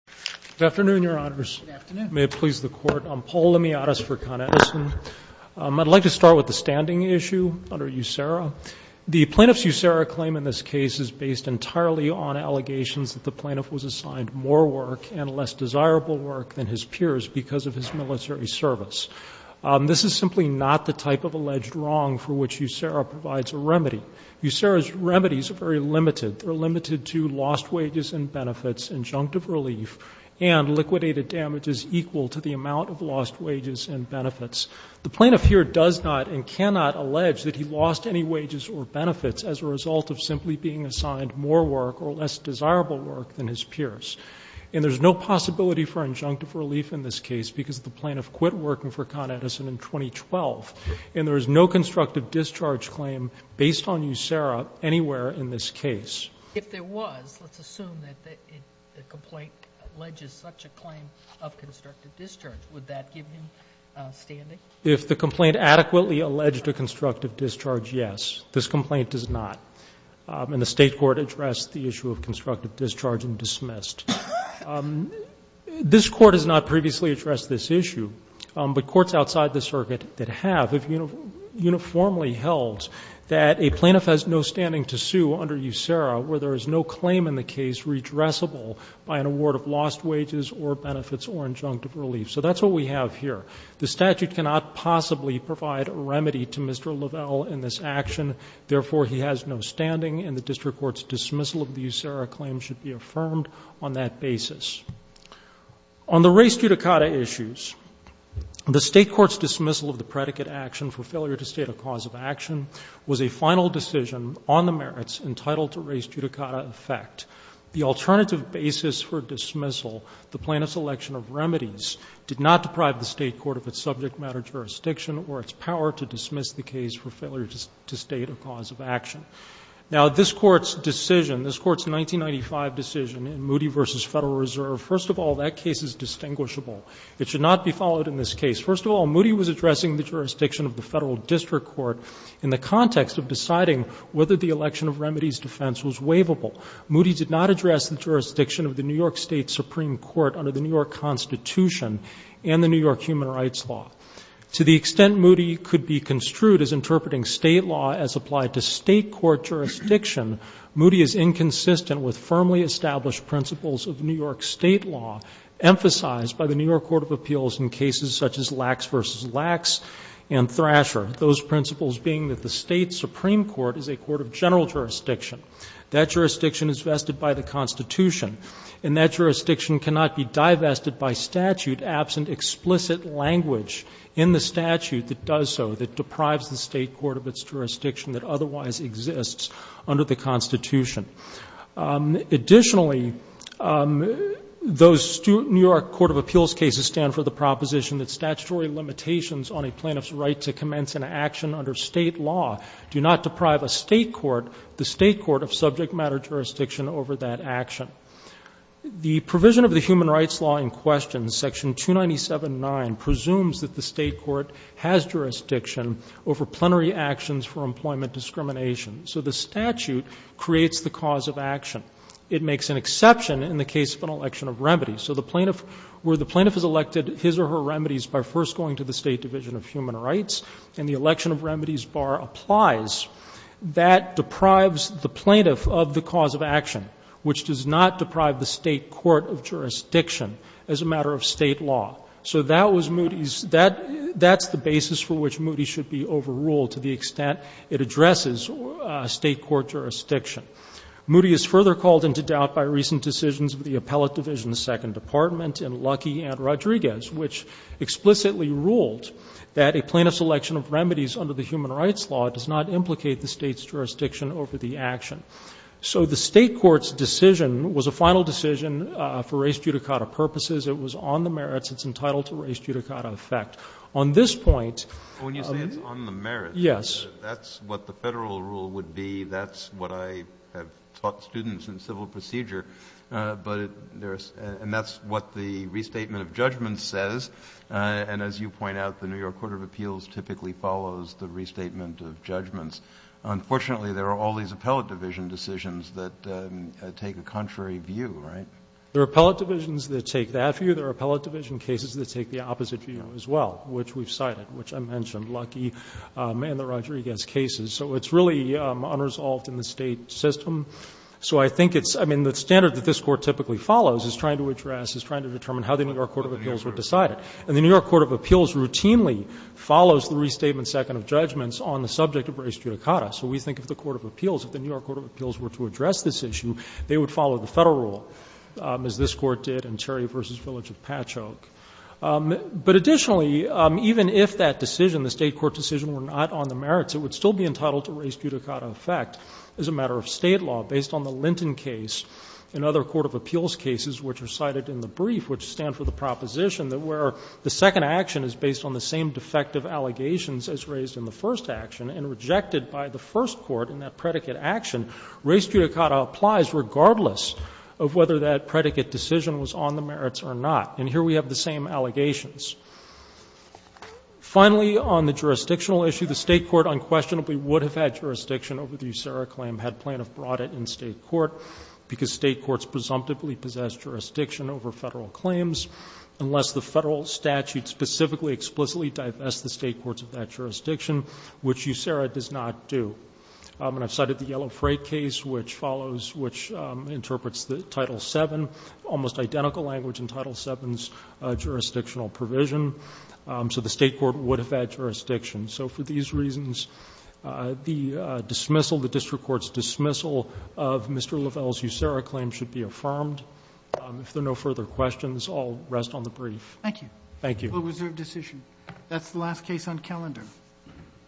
Good afternoon, Your Honors. May it please the Court. I'm Paul Lemiatas for Con Edison. I'd like to start with the standing issue under USERRA. The plaintiff's USERRA claim in this case is based entirely on allegations that the plaintiff was assigned more work and less desirable work than his peers because of his military service. This is simply not the type of alleged wrong for which USERRA provides a remedy. USERRA's remedies are very limited. They're limited to lost wages and benefits, injunctive relief, and liquidated damages equal to the amount of lost wages and benefits. The plaintiff here does not and cannot allege that he lost any wages or benefits as a result of simply being assigned more work or less desirable work than his peers. And there's no possibility for injunctive relief in this case because the plaintiff quit working for Con Edison in 2012. And there is no constructive discharge claim based on USERRA anywhere in this case. If there was, let's assume that the complaint alleges such a claim of constructive discharge, would that give him standing? If the complaint adequately alleged a constructive discharge, yes. This complaint does not. And the state court addressed the issue of constructive discharge and dismissed. This court has not previously addressed this issue. But courts outside the circuit that have have uniformly held that a plaintiff has no standing to sue under USERRA where there is no claim in the case redressable by an award of lost wages or benefits or injunctive relief. So that's what we have here. The statute cannot possibly provide a remedy to Mr. Lavelle in this action. Therefore, he has no standing, and the district court's dismissal of the USERRA claim should be affirmed on that basis. On the race judicata issues, the state court's dismissal of the predicate action for failure to state a cause of action was a final decision on the merits entitled to race judicata effect. The alternative basis for dismissal, the plaintiff's election of remedies, did not deprive the state court of its subject matter jurisdiction or its power to dismiss the case for failure to state a cause of action. Now, this Court's decision, this Court's 1995 decision in Moody v. Federal Reserve, first of all, that case is distinguishable. It should not be followed in this case. First of all, Moody was addressing the jurisdiction of the Federal District Court in the context of deciding whether the election of remedies defense was waivable. Moody did not address the jurisdiction of the New York State Supreme Court under the New York Constitution and the New York Human Rights Law. To the extent Moody could be construed as interpreting State law as applied to State court jurisdiction, Moody is inconsistent with firmly established principles of New York State law emphasized by the New York Court of Appeals in cases such as Lax v. Lax and Thrasher, those principles being that the State Supreme Court is a court of general jurisdiction. That jurisdiction is vested by the Constitution. And that jurisdiction cannot be divested by statute absent explicit language in the statute that does so, that deprives the State court of its jurisdiction that otherwise exists under the Constitution. Additionally, those New York Court of Appeals cases stand for the proposition that statutory limitations on a plaintiff's right to commence an action under State law do not deprive a State court. The State court of subject matter jurisdiction over that action. The provision of the Human Rights Law in question, section 297.9, presumes that the State court has jurisdiction over plenary actions for employment discrimination. So the statute creates the cause of action. It makes an exception in the case of an election of remedies. So the plaintiff, where the plaintiff has elected his or her remedies by first going to the State Division of Human Rights and the election of remedies bar applies, that deprives the plaintiff of the cause of action, which does not deprive the State court of jurisdiction as a matter of State law. So that was Moody's — that's the basis for which Moody's should be overruled to the extent it addresses State court jurisdiction. Moody is further called into doubt by recent decisions of the Appellate Division's Second Department in Lucky v. Rodriguez, which explicitly ruled that a plaintiff's election of remedies under the Human Rights Law does not implicate the State's jurisdiction over the action. So the State court's decision was a final decision for race judicata purposes. It was on the merits. It's entitled to race judicata effect. On this point — Kennedy, on the merits. Yes. That's what the Federal rule would be. That's what I have taught students in civil procedure. And that's what the restatement of judgments says. And as you point out, the New York Court of Appeals typically follows the restatement of judgments. Unfortunately, there are all these Appellate Division decisions that take a contrary view, right? There are Appellate Divisions that take that view. There are Appellate Division cases that take the opposite view as well, which we've cited, which I mentioned, Lucky and the Rodriguez cases. So it's really unresolved in the State system. So I think it's — I mean, the standard that this Court typically follows is trying to address, is trying to determine how the New York Court of Appeals would decide it. And the New York Court of Appeals routinely follows the restatement second of judgments on the subject of race judicata. So we think if the Court of Appeals, if the New York Court of Appeals were to address this issue, they would follow the Federal rule, as this Court did in Cherry v. Village of Patchogue. But additionally, even if that decision, the State court decision, were not on the merits, it would still be entitled to race judicata effect as a matter of State law based on the Linton case and other Court of Appeals cases which are cited in the brief, which stand for the proposition that where the second action is based on the same defective allegations as raised in the first action and rejected by the first court in that predicate action, race judicata applies regardless of whether that predicate decision was on the merits or not. And here we have the same allegations. Finally, on the jurisdictional issue, the State court unquestionably would have had brought it in State court because State courts presumptively possess jurisdiction over Federal claims unless the Federal statute specifically explicitly divests the State courts of that jurisdiction, which USERRA does not do. And I've cited the Yellow Freight case which follows, which interprets the Title VII, almost identical language in Title VII's jurisdictional provision. So the State court would have had jurisdiction. So for these reasons, the dismissal, the district court's dismissal of Mr. Lavelle's USERRA claim should be affirmed. If there are no further questions, I'll rest on the brief. Thank you. Thank you. Well, was there a decision? That's the last case on calendar.